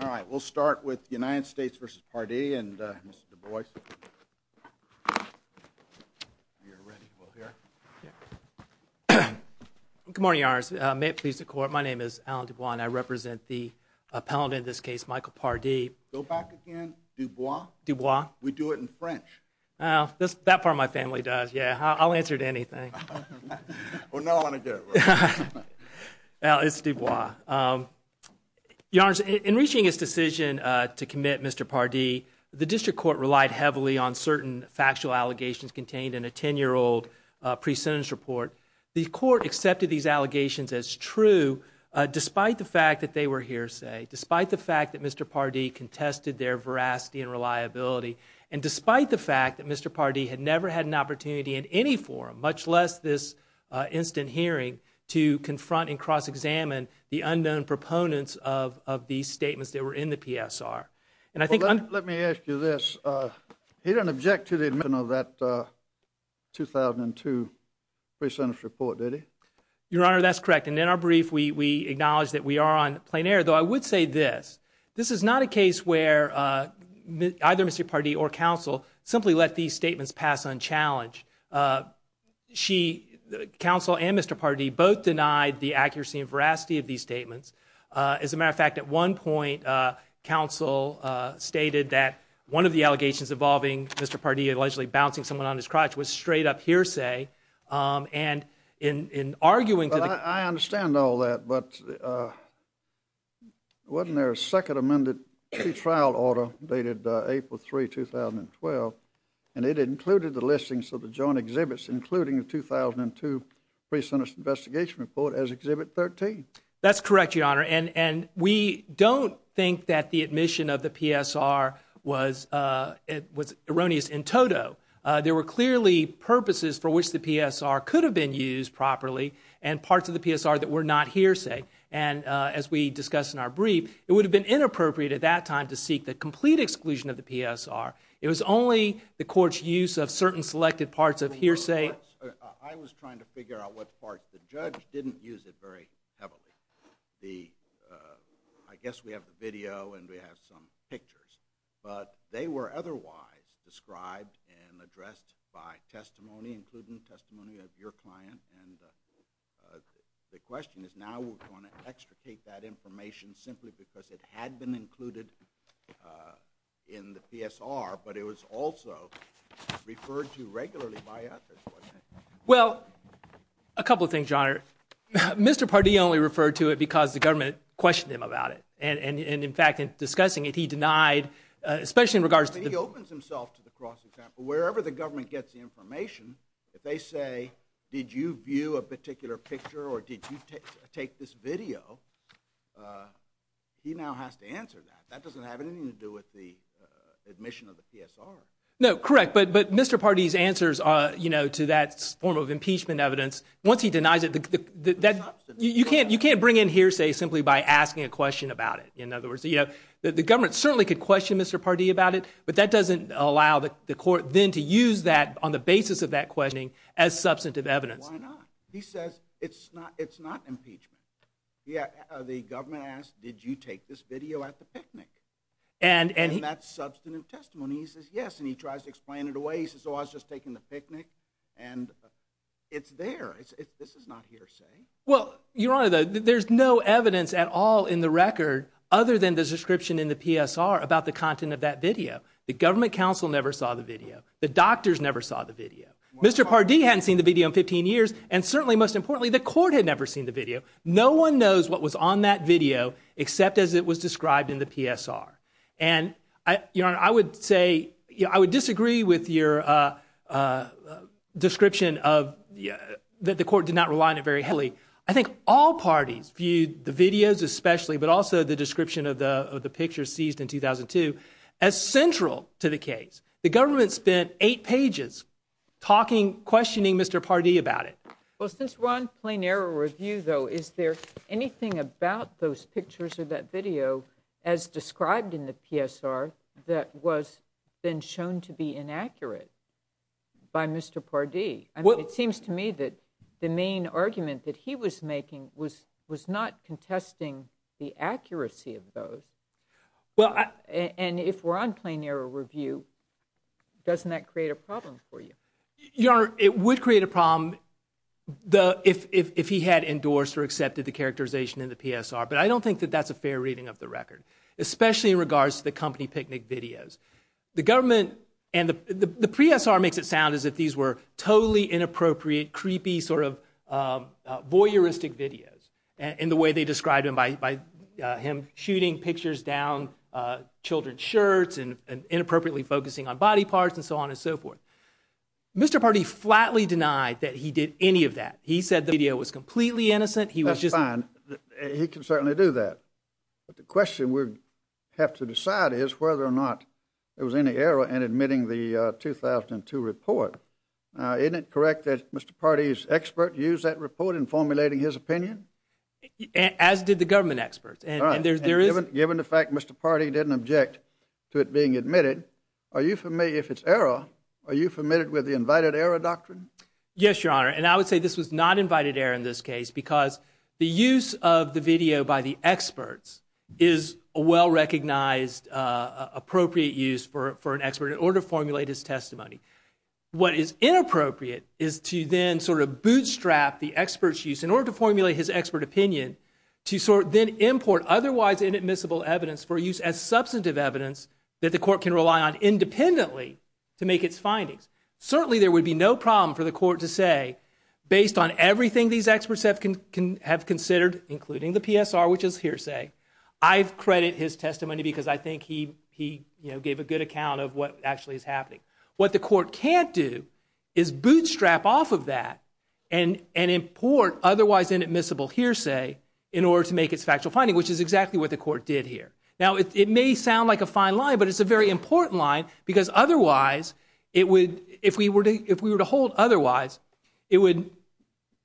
All right, we'll start with the United States v. Pardee and Mr. Du Bois. Good morning, Your Honor. May it please the Court, my name is Alan Du Bois and I represent the appellant in this case, Michael Pardee. Go back again. Du Bois? Du Bois. We do it in French. That part of my family does, yeah. I'll answer to anything. Well, now I want to do it. Well, it's Du Bois. Your Honor, in reaching his decision to commit Mr. Pardee, the district court relied heavily on certain factual allegations contained in a 10-year-old pre-sentence report. The court accepted these allegations as true, despite the fact that they were hearsay, despite the fact that Mr. Pardee contested their veracity and reliability, and despite the fact that Mr. Pardee had never had an opportunity in any forum, much less this instant hearing, to confront and cross-examine the unknown proponents of these statements that were in the PSR. Let me ask you this. He didn't object to the admission of that 2002 pre-sentence report, did he? Your Honor, that's correct. And in our brief, we acknowledge that we are on plain air. Though I would say this. This is not a case where either Mr. Pardee or counsel simply let these statements pass unchallenged. Counsel and Mr. Pardee both denied the accuracy and veracity of these statements. As a matter of fact, at one point, counsel stated that one of the allegations involving Mr. Pardee allegedly bouncing someone on his crotch was straight-up hearsay. I understand all that, but wasn't there a second amended pre-trial order dated April 3, 2012, and it included the listings of the joint exhibits, including the 2002 pre-sentence investigation report, as Exhibit 13? That's correct, Your Honor. And we don't think that the admission of the PSR was erroneous in toto. There were clearly purposes for which the PSR could have been used properly and parts of the PSR that were not hearsay. And as we discussed in our brief, it would have been inappropriate at that time to seek the complete exclusion of the PSR. It was only the court's use of certain selected parts of hearsay. I was trying to figure out what parts. The judge didn't use it very heavily. I guess we have the video and we have some pictures, but they were otherwise described and addressed by testimony, including testimony of your client. And the question is now we're going to extricate that information simply because it had been included in the PSR, but it was also referred to regularly by others, wasn't it? Well, a couple of things, Your Honor. Mr. Pardee only referred to it because the government questioned him about it. And in fact, in discussing it, he denied, especially in regards to the- He opens himself to the cross-example. Wherever the government gets the information, if they say, did you view a particular picture or did you take this video? He now has to answer that. That doesn't have anything to do with the admission of the PSR. No, correct. But Mr. Pardee's answers to that form of impeachment evidence, once he denies it, you can't bring in hearsay simply by asking a question about it. In other words, the government certainly could question Mr. Pardee about it, but that doesn't allow the court then to use that on the basis of that questioning as substantive evidence. Why not? He says it's not impeachment. The government asked, did you take this video at the picnic? And that's substantive testimony. He says yes, and he tries to explain it away. He says, oh, I was just taking the picnic, and it's there. This is not hearsay. Well, Your Honor, there's no evidence at all in the record other than the description in the PSR about the content of that video. The government counsel never saw the video. The doctors never saw the video. Mr. Pardee hadn't seen the video in 15 years, and certainly, most importantly, the court had never seen the video. No one knows what was on that video except as it was described in the PSR. And, Your Honor, I would say I would disagree with your description that the court did not rely on it very heavily. I think all parties viewed the videos especially, but also the description of the picture seized in 2002, as central to the case. The government spent eight pages talking, questioning Mr. Pardee about it. Well, since we're on plain error review, though, is there anything about those pictures or that video as described in the PSR that was then shown to be inaccurate by Mr. Pardee? It seems to me that the main argument that he was making was not contesting the accuracy of those. And if we're on plain error review, doesn't that create a problem for you? Your Honor, it would create a problem if he had endorsed or accepted the characterization in the PSR, but I don't think that that's a fair reading of the record, especially in regards to the company picnic videos. The PSR makes it sound as if these were totally inappropriate, creepy, sort of voyeuristic videos, in the way they described them by him shooting pictures down children's shirts and inappropriately focusing on body parts and so on and so forth. Mr. Pardee flatly denied that he did any of that. He said the video was completely innocent. That's fine. He can certainly do that. But the question we have to decide is whether or not there was any error in admitting the 2002 report. Isn't it correct that Mr. Pardee's expert used that report in formulating his opinion? As did the government experts. Given the fact Mr. Pardee didn't object to it being admitted, if it's error, are you familiar with the invited error doctrine? Yes, Your Honor, and I would say this was not invited error in this case, because the use of the video by the experts is a well-recognized, appropriate use for an expert in order to formulate his testimony. What is inappropriate is to then sort of bootstrap the expert's use in order to formulate his expert opinion to then import otherwise inadmissible evidence for use as substantive evidence that the court can rely on independently to make its findings. Certainly there would be no problem for the court to say, based on everything these experts have considered, including the PSR, which is hearsay, I credit his testimony because I think he gave a good account of what actually is happening. What the court can't do is bootstrap off of that and import otherwise inadmissible hearsay in order to make its factual finding, which is exactly what the court did here. Now, it may sound like a fine line, but it's a very important line, because otherwise, if we were to hold otherwise, it would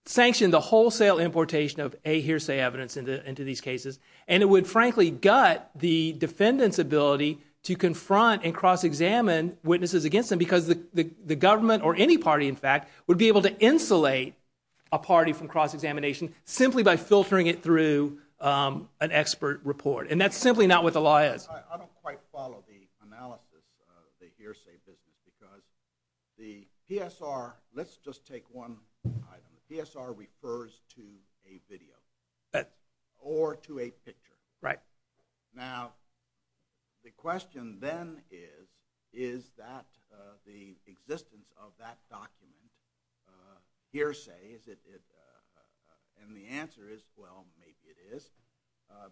sanction the wholesale importation of a hearsay evidence into these cases, and it would, frankly, gut the defendant's ability to confront and cross-examine witnesses against them, because the government or any party, in fact, would be able to insulate a party from cross-examination simply by filtering it through an expert report. And that's simply not what the law is. I don't quite follow the analysis of the hearsay business, because the PSR – let's just take one item. The PSR refers to a video or to a picture. Right. Now, the question then is, is the existence of that document hearsay, and the answer is, well, maybe it is.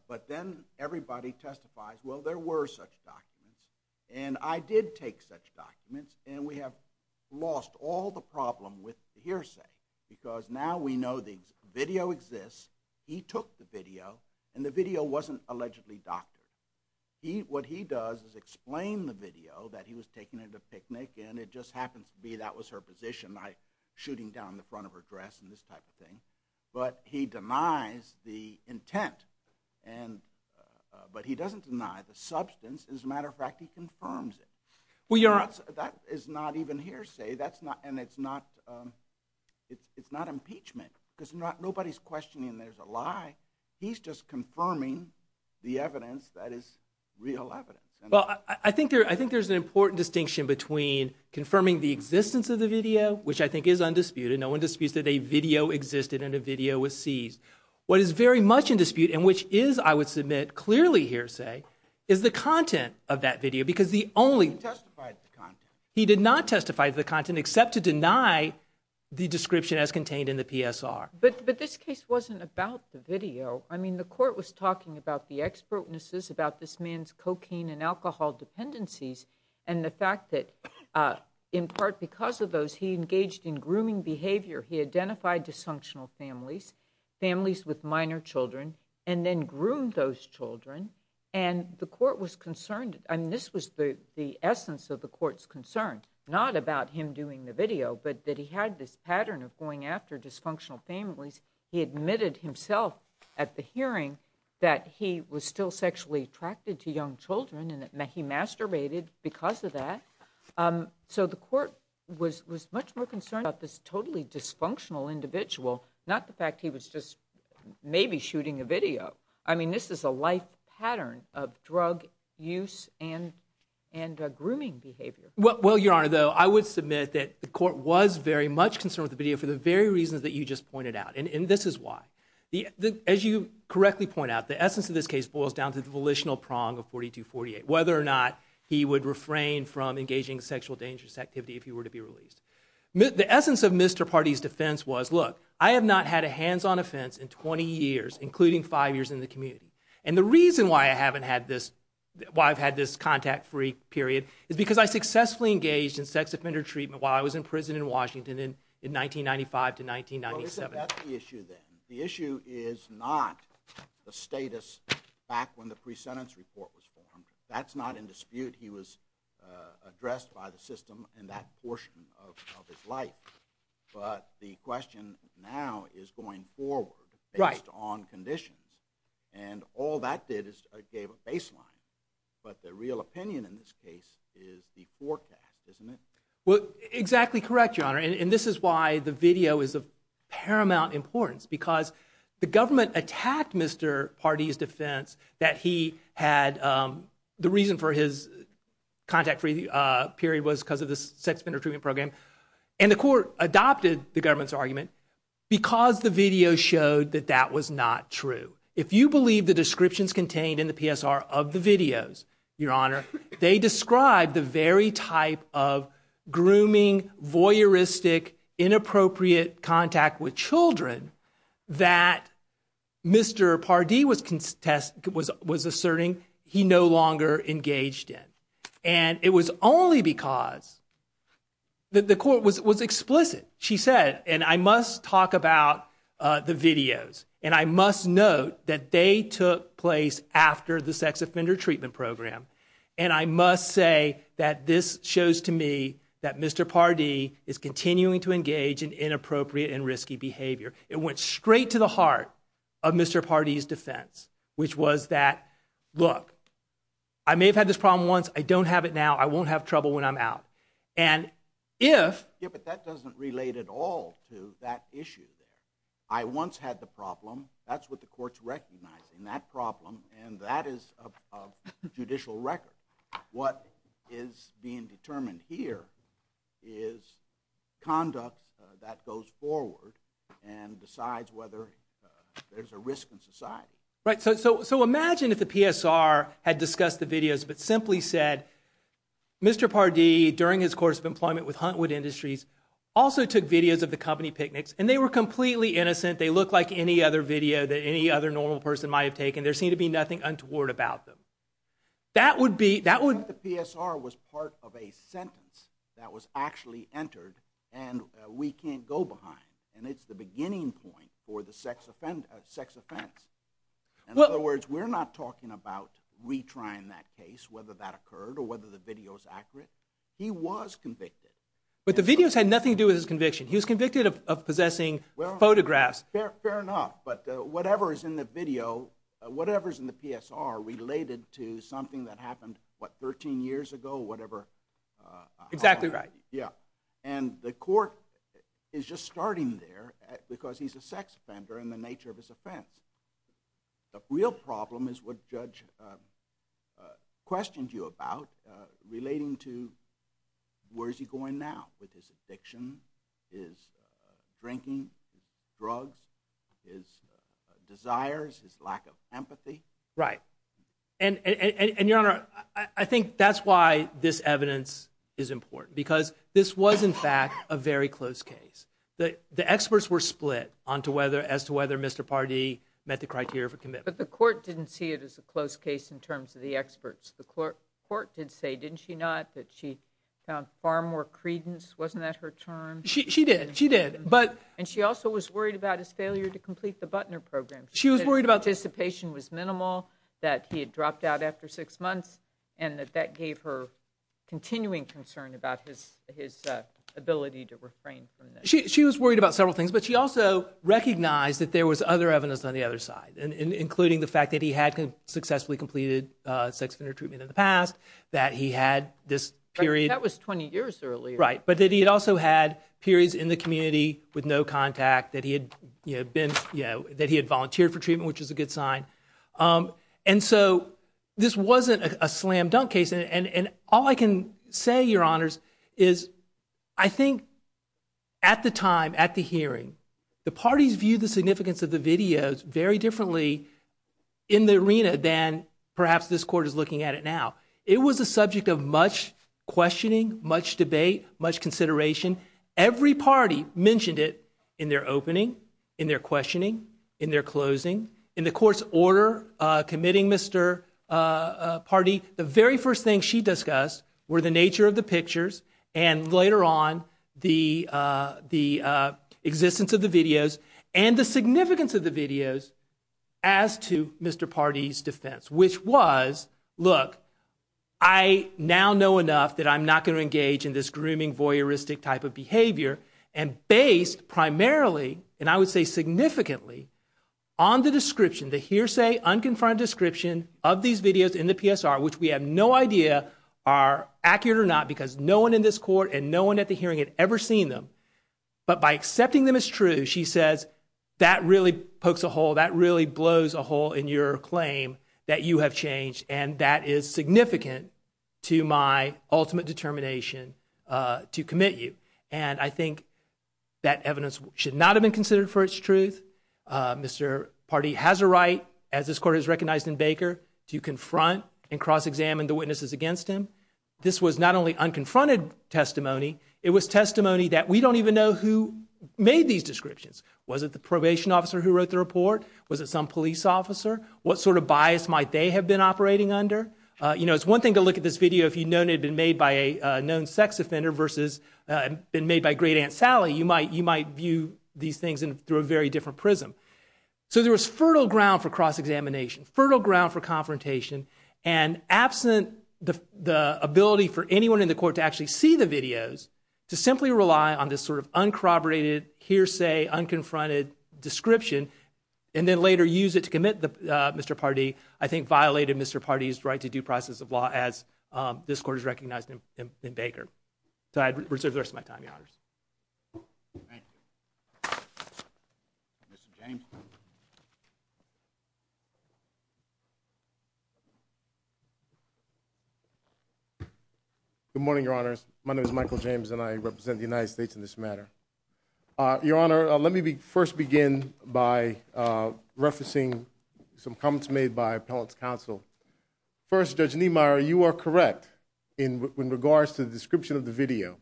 But then everybody testifies, well, there were such documents, and I did take such documents, and we have lost all the problem with the hearsay, because now we know the video exists. He took the video, and the video wasn't allegedly doctored. What he does is explain the video that he was taking at a picnic, and it just happens to be that was her position, shooting down the front of her dress and this type of thing. But he denies the intent, but he doesn't deny the substance. As a matter of fact, he confirms it. That is not even hearsay, and it's not impeachment, because nobody's questioning there's a lie. He's just confirming the evidence that is real evidence. Well, I think there's an important distinction between confirming the existence of the video, which I think is undisputed. No one disputes that a video existed and a video was seized. What is very much in dispute, and which is, I would submit, clearly hearsay, is the content of that video, because the only— He testified to the content. He did not testify to the content, except to deny the description as contained in the PSR. But this case wasn't about the video. I mean, the court was talking about the expertnesses, about this man's cocaine and alcohol dependencies, and the fact that, in part because of those, he engaged in grooming behavior. He identified dysfunctional families, families with minor children, and then groomed those children, and the court was concerned. I mean, this was the essence of the court's concern, not about him doing the video, but that he had this pattern of going after dysfunctional families. He admitted himself at the hearing that he was still sexually attracted to young children, and that he masturbated because of that. So the court was much more concerned about this totally dysfunctional individual, not the fact he was just maybe shooting a video. I mean, this is a life pattern of drug use and grooming behavior. Well, Your Honor, though, I would submit that the court was very much concerned with the video for the very reasons that you just pointed out, and this is why. As you correctly point out, the essence of this case boils down to the volitional prong of 4248, whether or not he would refrain from engaging in sexual dangerous activity if he were to be released. The essence of Mr. Pardee's defense was, look, I have not had a hands-on offense in 20 years, including five years in the community. And the reason why I've had this contact-free period is because I successfully engaged in sex offender treatment while I was in prison in Washington in 1995 to 1997. Well, isn't that the issue then? The issue is not the status back when the pre-sentence report was formed. That's not in dispute. He was addressed by the system in that portion of his life. But the question now is going forward based on conditions. And all that did is it gave a baseline. But the real opinion in this case is the forecast, isn't it? Well, exactly correct, Your Honor. And this is why the video is of paramount importance, because the government attacked Mr. Pardee's defense that he had the reason for his contact-free period was because of the sex offender treatment program. And the court adopted the government's argument because the video showed that that was not true. If you believe the descriptions contained in the PSR of the videos, Your Honor, they describe the very type of grooming, voyeuristic, inappropriate contact with children that Mr. Pardee was asserting he no longer engaged in. And it was only because the court was explicit. She said, and I must talk about the videos, and I must note that they took place after the sex offender treatment program, and I must say that this shows to me that Mr. Pardee is continuing to engage in inappropriate and risky behavior. It went straight to the heart of Mr. Pardee's defense, which was that, look, I may have had this problem once. I don't have it now. I won't have trouble when I'm out. Yeah, but that doesn't relate at all to that issue there. I once had the problem. That's what the court's recognizing, that problem, and that is of judicial record. What is being determined here is conduct that goes forward and decides whether there's a risk in society. Right, so imagine if the PSR had discussed the videos but simply said, Mr. Pardee, during his course of employment with Huntwood Industries, also took videos of the company picnics, and they were completely innocent. They looked like any other video that any other normal person might have taken. There seemed to be nothing untoward about them. That would be, that would. The PSR was part of a sentence that was actually entered, and we can't go behind, and it's the beginning point for the sex offense. In other words, we're not talking about retrying that case, whether that occurred or whether the video's accurate. He was convicted. But the videos had nothing to do with his conviction. He was convicted of possessing photographs. Fair enough, but whatever is in the video, whatever's in the PSR, related to something that happened, what, 13 years ago, whatever. Exactly right. Yeah, and the court is just starting there because he's a sex offender in the nature of his offense. The real problem is what Judge questioned you about, relating to where's he going now, with his addiction, his drinking, drugs, his desires, his lack of empathy. Right, and Your Honor, I think that's why this evidence is important because this was, in fact, a very close case. The experts were split as to whether Mr. Pardee met the criteria for commitment. But the court didn't see it as a close case in terms of the experts. The court did say, didn't she not, that she found far more credence. Wasn't that her term? She did. She did. And she also was worried about his failure to complete the Butner program. She was worried about His participation was minimal, that he had dropped out after six months, and that that gave her continuing concern about his ability to refrain from this. She was worried about several things, but she also recognized that there was other evidence on the other side, including the fact that he had successfully completed sex offender treatment in the past, that he had this period That was 20 years earlier. Right, but that he had also had periods in the community with no contact, that he had volunteered for treatment, which is a good sign. And so this wasn't a slam dunk case. And all I can say, Your Honors, is I think at the time, at the hearing, the parties viewed the significance of the videos very differently in the arena than perhaps this court is looking at it now. It was a subject of much questioning, much debate, much consideration. Every party mentioned it in their opening, in their questioning, in their closing, in the court's order committing Mr. Pardee. The very first thing she discussed were the nature of the pictures, and later on, the existence of the videos, and the significance of the videos, as to Mr. Pardee's defense, which was, look, I now know enough that I'm not going to engage in this grooming, voyeuristic type of behavior, and based primarily, and I would say significantly, on the description, the hearsay, unconfirmed description of these videos in the PSR, which we have no idea are accurate or not because no one in this court and no one at the hearing had ever seen them. But by accepting them as true, she says, that really pokes a hole, that really blows a hole in your claim that you have changed, and that is significant to my ultimate determination to commit you. And I think that evidence should not have been considered for its truth. Mr. Pardee has a right, as this court has recognized in Baker, to confront and cross-examine the witnesses against him. This was not only unconfronted testimony, it was testimony that we don't even know who made these descriptions. Was it the probation officer who wrote the report? Was it some police officer? What sort of bias might they have been operating under? You know, it's one thing to look at this video if you'd known it had been made by a known sex offender versus it had been made by Great Aunt Sally. You might view these things through a very different prism. So there was fertile ground for cross-examination, fertile ground for confrontation, and absent the ability for anyone in the court to actually see the videos, to simply rely on this sort of uncorroborated, hearsay, unconfronted description and then later use it to commit Mr. Pardee, as this court has recognized in Baker. So I'd reserve the rest of my time, Your Honors. Thank you. Mr. James. Good morning, Your Honors. My name is Michael James, and I represent the United States in this matter. Your Honor, let me first begin by referencing some comments made by appellate's counsel. First, Judge Niemeyer, you are correct in regards to the description of the video.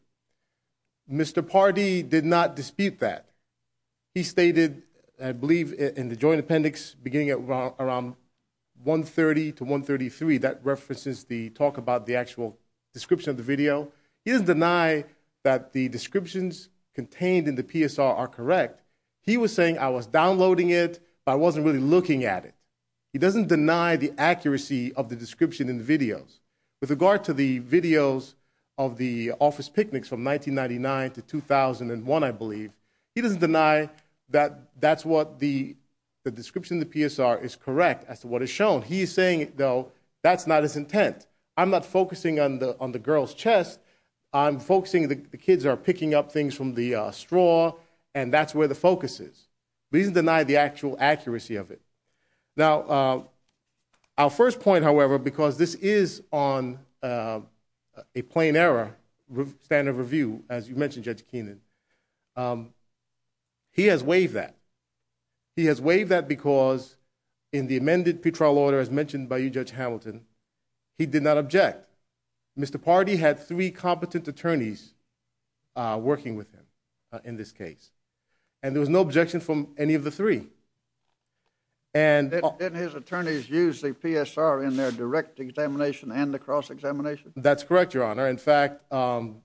Mr. Pardee did not dispute that. He stated, I believe, in the joint appendix beginning at around 130 to 133, that references the talk about the actual description of the video. He doesn't deny that the descriptions contained in the PSR are correct. He was saying, I was downloading it, but I wasn't really looking at it. He doesn't deny the accuracy of the description in the videos. With regard to the videos of the office picnics from 1999 to 2001, I believe, he doesn't deny that that's what the description in the PSR is correct as to what is shown. He is saying, though, that's not his intent. I'm not focusing on the girl's chest. I'm focusing that the kids are picking up things from the straw, and that's where the focus is. But he doesn't deny the actual accuracy of it. Now, our first point, however, because this is on a plain error standard of review, as you mentioned, Judge Keenan, he has waived that. He has waived that because in the amended Petrol Order, as mentioned by you, Judge Hamilton, he did not object. Mr. Pardee had three competent attorneys working with him in this case, and there was no objection from any of the three. Didn't his attorneys use the PSR in their direct examination and the cross-examination? That's correct, Your Honor. In fact, one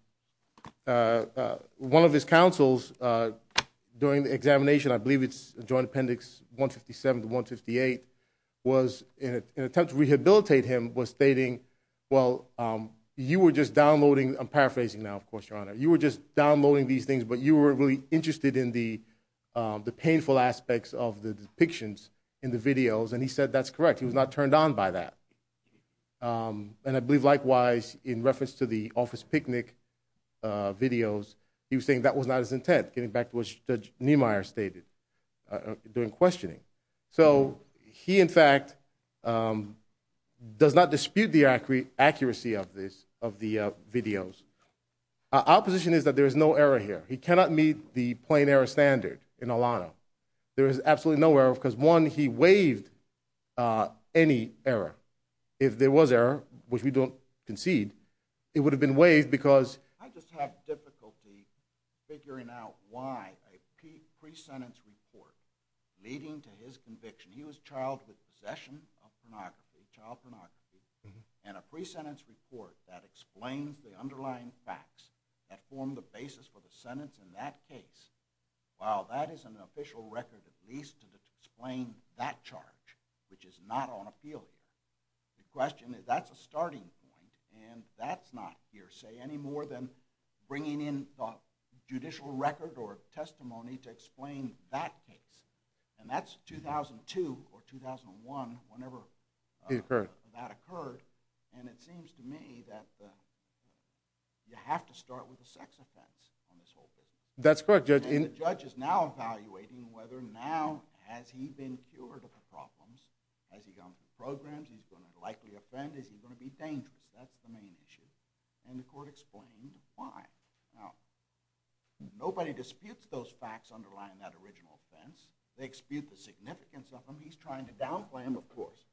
of his counsels during the examination, I believe it's Joint Appendix 157 to 158, was in an attempt to rehabilitate him, was stating, well, you were just downloading, I'm paraphrasing now, of course, Your Honor, you were just downloading these things, but you were really interested in the painful aspects of the depictions in the videos, and he said that's correct. He was not turned on by that. And I believe, likewise, in reference to the office picnic videos, he was saying that was not his intent, getting back to what Judge Niemeyer stated during questioning. So he, in fact, does not dispute the accuracy of this, of the videos. Our position is that there is no error here. He cannot meet the plain error standard in Alano. There is absolutely no error because, one, he waived any error. If there was error, which we don't concede, it would have been waived because... I just have difficulty figuring out why a pre-sentence report leading to his conviction. He was charged with possession of pornography, child pornography, and a pre-sentence report that explains the underlying facts that formed the basis for the sentence in that case. While that is an official record at least to explain that charge, which is not on appeal, the question is that's a starting point, and that's not hearsay any more than bringing in the judicial record or testimony to explain that case. And that's 2002 or 2001, whenever that occurred. And it seems to me that you have to start with a sex offense on this whole thing. That's correct, Judge. And the judge is now evaluating whether now has he been cured of the problems. Has he gone through programs? Is he going to likely offend? Is he going to be dangerous? That's the main issue. And the court explained why. Nobody disputes those facts underlying that original offense. They dispute the significance of them. He's trying to downplay them, of course,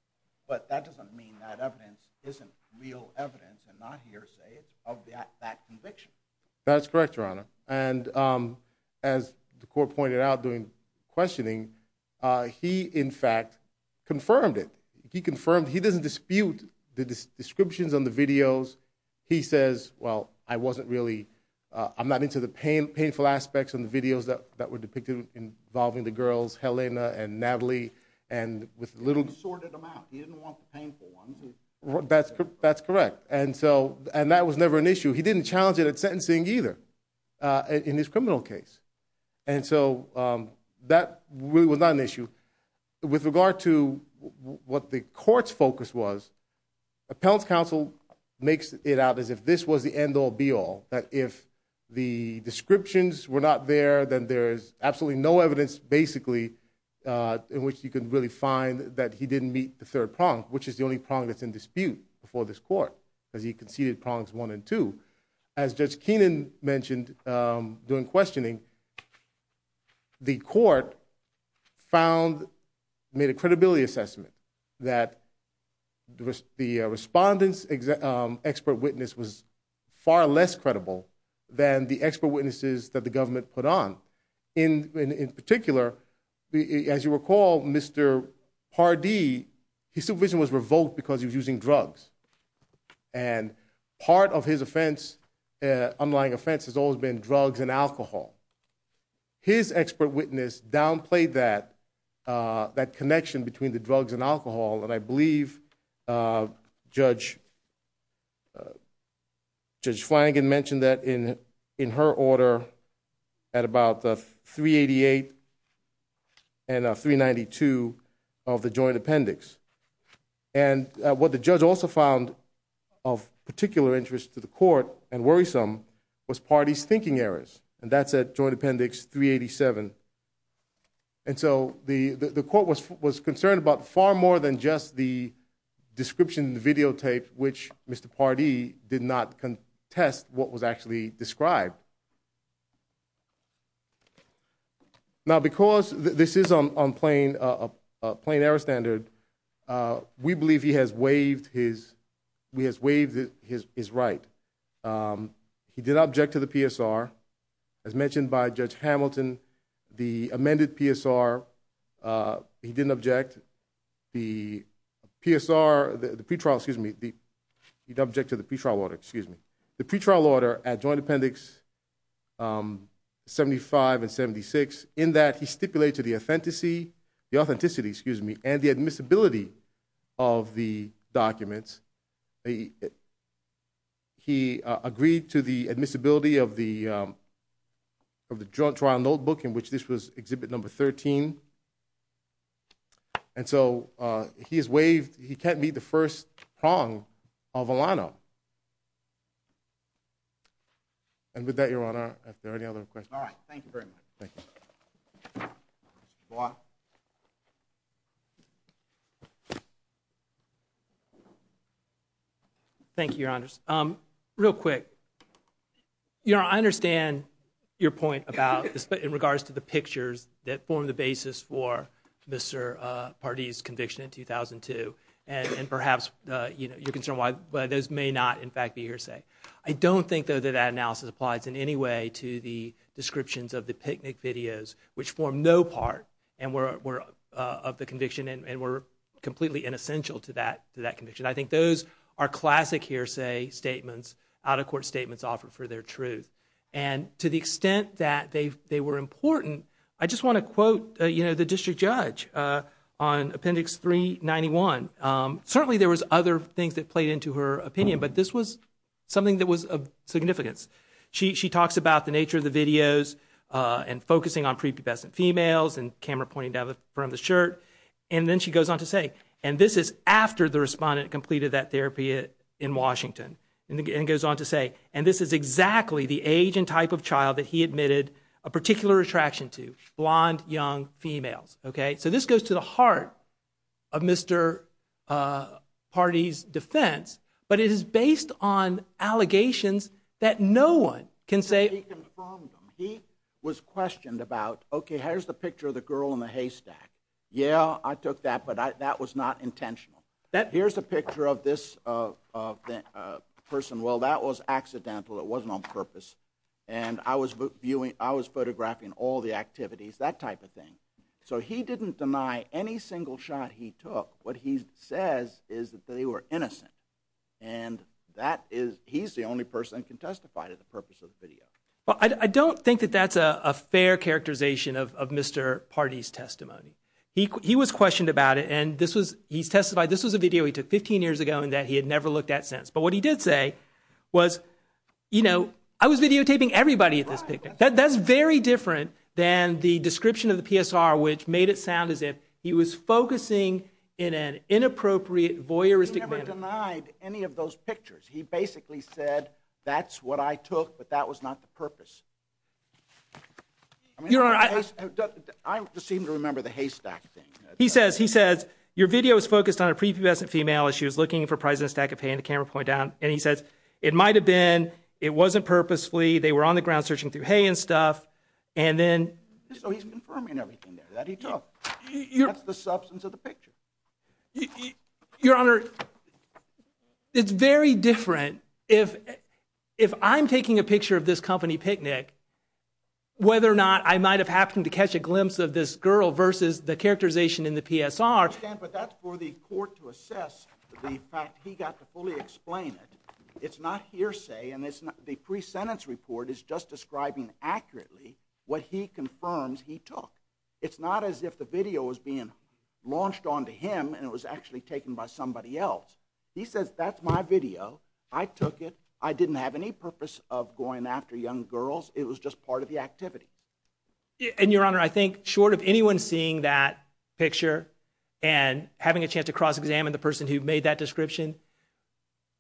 but that doesn't mean that evidence isn't real evidence and not hearsay. It's of that conviction. That's correct, Your Honor. And as the court pointed out during questioning, he, in fact, confirmed it. He confirmed he doesn't dispute the descriptions on the videos. He says, well, I wasn't really, I'm not into the painful aspects on the videos that were depicted involving the girls, Helena and Natalie, and with little. He sorted them out. He didn't want the painful ones. That's correct. And that was never an issue. He didn't challenge it at sentencing either in his criminal case. And so that really was not an issue. With regard to what the court's focus was, appellant's counsel makes it out as if this was the end-all, be-all, that if the descriptions were not there, then there is absolutely no evidence, basically, in which you could really find that he didn't meet the third prong, which is the only prong that's in dispute before this court, because he conceded prongs one and two. As Judge Keenan mentioned during questioning, the court made a credibility assessment that the respondent's expert witness was far less credible than the expert witnesses that the government put on. In particular, as you recall, Mr. Pardee, his supervision was revoked because he was using drugs. And part of his unlying offense has always been drugs and alcohol. His expert witness downplayed that connection between the drugs and alcohol, and I believe Judge Flanagan mentioned that in her order at about 388 and 392 of the joint appendix. And what the judge also found of particular interest to the court and worrisome was Pardee's thinking errors, and that's at joint appendix 387. And so the court was concerned about far more than just the description videotaped, which Mr. Pardee did not contest what was actually described. Now, because this is on plain error standard, we believe he has waived his right. He did object to the PSR. As mentioned by Judge Hamilton, the amended PSR, he didn't object. The PSR, the pretrial, excuse me, he did object to the pretrial order, excuse me. The pretrial order at joint appendix 75 and 76, in that he stipulated the authenticity and the admissibility of the documents. He agreed to the admissibility of the joint trial notebook in which this was exhibit number 13. And so he has waived, he can't meet the first prong of Alano. And with that, Your Honor, are there any other questions? All right, thank you very much. Thank you. Mr. Block. Thank you, Your Honors. Real quick, you know, I understand your point about, in regards to the pictures that form the basis for Mr. Pardee's conviction in 2002, and perhaps you're concerned why those may not, in fact, be hearsay. I don't think, though, that that analysis applies in any way to the descriptions of the picnic videos, which form no part of the conviction and were completely inessential to that conviction. I think those are classic hearsay statements, out-of-court statements offered for their truth. And to the extent that they were important, I just want to quote, you know, the district judge on Appendix 391. Certainly there was other things that played into her opinion, but this was something that was of significance. She talks about the nature of the videos and focusing on prepubescent females and camera pointing down the front of the shirt. And then she goes on to say, and this is after the respondent completed that therapy in Washington, and goes on to say, and this is exactly the age and type of child that he admitted a particular attraction to, blonde, young females, okay? So this goes to the heart of Mr. Party's defense, but it is based on allegations that no one can say... He confirmed them. He was questioned about, okay, here's the picture of the girl in the haystack. Yeah, I took that, but that was not intentional. Here's a picture of this person. Well, that was accidental. It wasn't on purpose, and I was photographing all the activities, that type of thing. So he didn't deny any single shot he took. What he says is that they were innocent, and he's the only person who can testify to the purpose of the video. I don't think that that's a fair characterization of Mr. Party's testimony. He was questioned about it, and he's testified this was a video he took 15 years ago and that he had never looked at since. But what he did say was, you know, I was videotaping everybody at this picnic. That's very different than the description of the PSR, which made it sound as if he was focusing in an inappropriate voyeuristic manner. He never denied any of those pictures. He basically said, that's what I took, but that was not the purpose. Your Honor, I... I just seem to remember the haystack thing. He says, he says, your video is focused on a prepubescent female as she was looking for a prize in a stack of hay, and the camera pointed down, and he says, it might have been, it wasn't purposefully, they were on the ground searching through hay and stuff, and then... So he's confirming everything there that he took. That's the substance of the picture. Your Honor, it's very different if I'm taking a picture of this company picnic, whether or not I might have happened to catch a glimpse of this girl versus the characterization in the PSR. I understand, but that's for the court to assess the fact he got to fully explain it. It's not hearsay, and the pre-sentence report is just describing accurately what he confirms he took. It's not as if the video was being launched onto him and it was actually taken by somebody else. He says, that's my video, I took it, I didn't have any purpose of going after young girls, it was just part of the activity. And, Your Honor, I think, short of anyone seeing that picture and having a chance to cross-examine the person who made that description,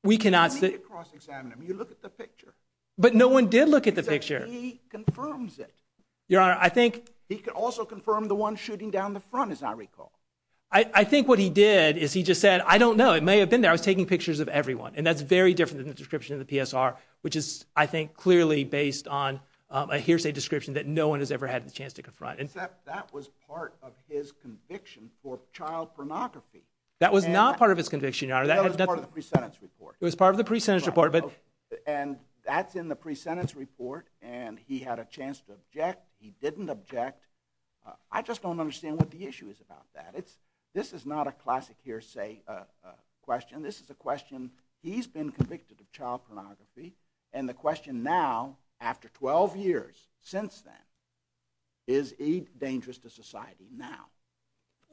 we cannot... You don't need to cross-examine him, you look at the picture. But no one did look at the picture. He confirms it. Your Honor, I think... He can also confirm the one shooting down the front, as I recall. I think what he did is he just said, I don't know, it may have been there, I was taking pictures of everyone. And that's very different than the description of the PSR, that no one has ever had the chance to confront. Except that was part of his conviction for child pornography. That was not part of his conviction, Your Honor. That was part of the pre-sentence report. It was part of the pre-sentence report, but... And that's in the pre-sentence report, and he had a chance to object, he didn't object. I just don't understand what the issue is about that. This is not a classic hearsay question. This is a question, he's been convicted of child pornography, and the question now, after 12 years since then, is he dangerous to society now?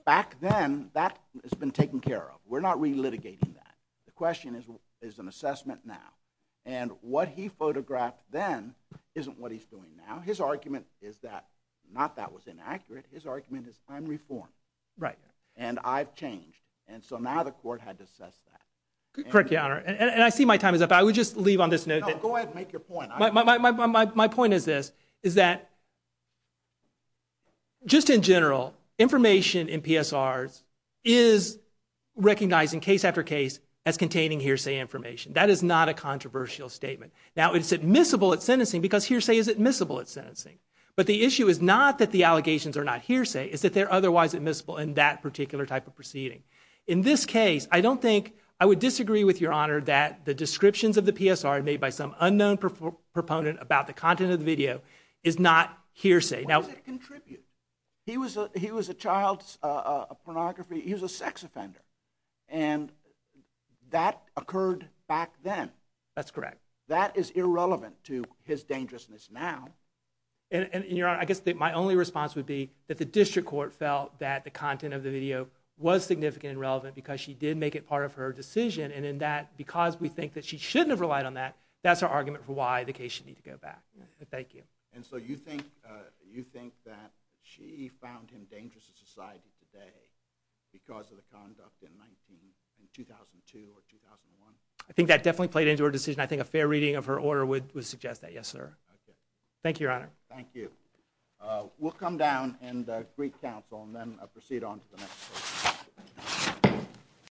Back then, that has been taken care of. We're not re-litigating that. The question is, is an assessment now. And what he photographed then isn't what he's doing now. His argument is that, not that was inaccurate, his argument is, I'm reformed. And I've changed. And so now the court had to assess that. Correct, Your Honor. And I see my time is up. I would just leave on this note that... No, go ahead and make your point. My point is this, is that, just in general, information in PSRs is recognizing case after case as containing hearsay information. That is not a controversial statement. Now, it's admissible at sentencing, because hearsay is admissible at sentencing. But the issue is not that the allegations are not hearsay, it's that they're otherwise admissible in that particular type of proceeding. In this case, I don't think, I would disagree with Your Honor, that the descriptions of the PSR made by some unknown proponent about the content of the video is not hearsay. Why does it contribute? He was a child's pornography, he was a sex offender. And that occurred back then. That's correct. That is irrelevant to his dangerousness now. And Your Honor, I guess my only response would be that the district court felt that the content of the video was significant and relevant because she did make it part of her decision, and because we think that she shouldn't have relied on that, that's our argument for why the case should need to go back. Thank you. And so you think that she found him dangerous to society today because of the conduct in 2002 or 2001? I think that definitely played into her decision. I think a fair reading of her order would suggest that, yes, sir. Okay. Thank you, Your Honor. Thank you. We'll come down and greet counsel, and then proceed on to the next question.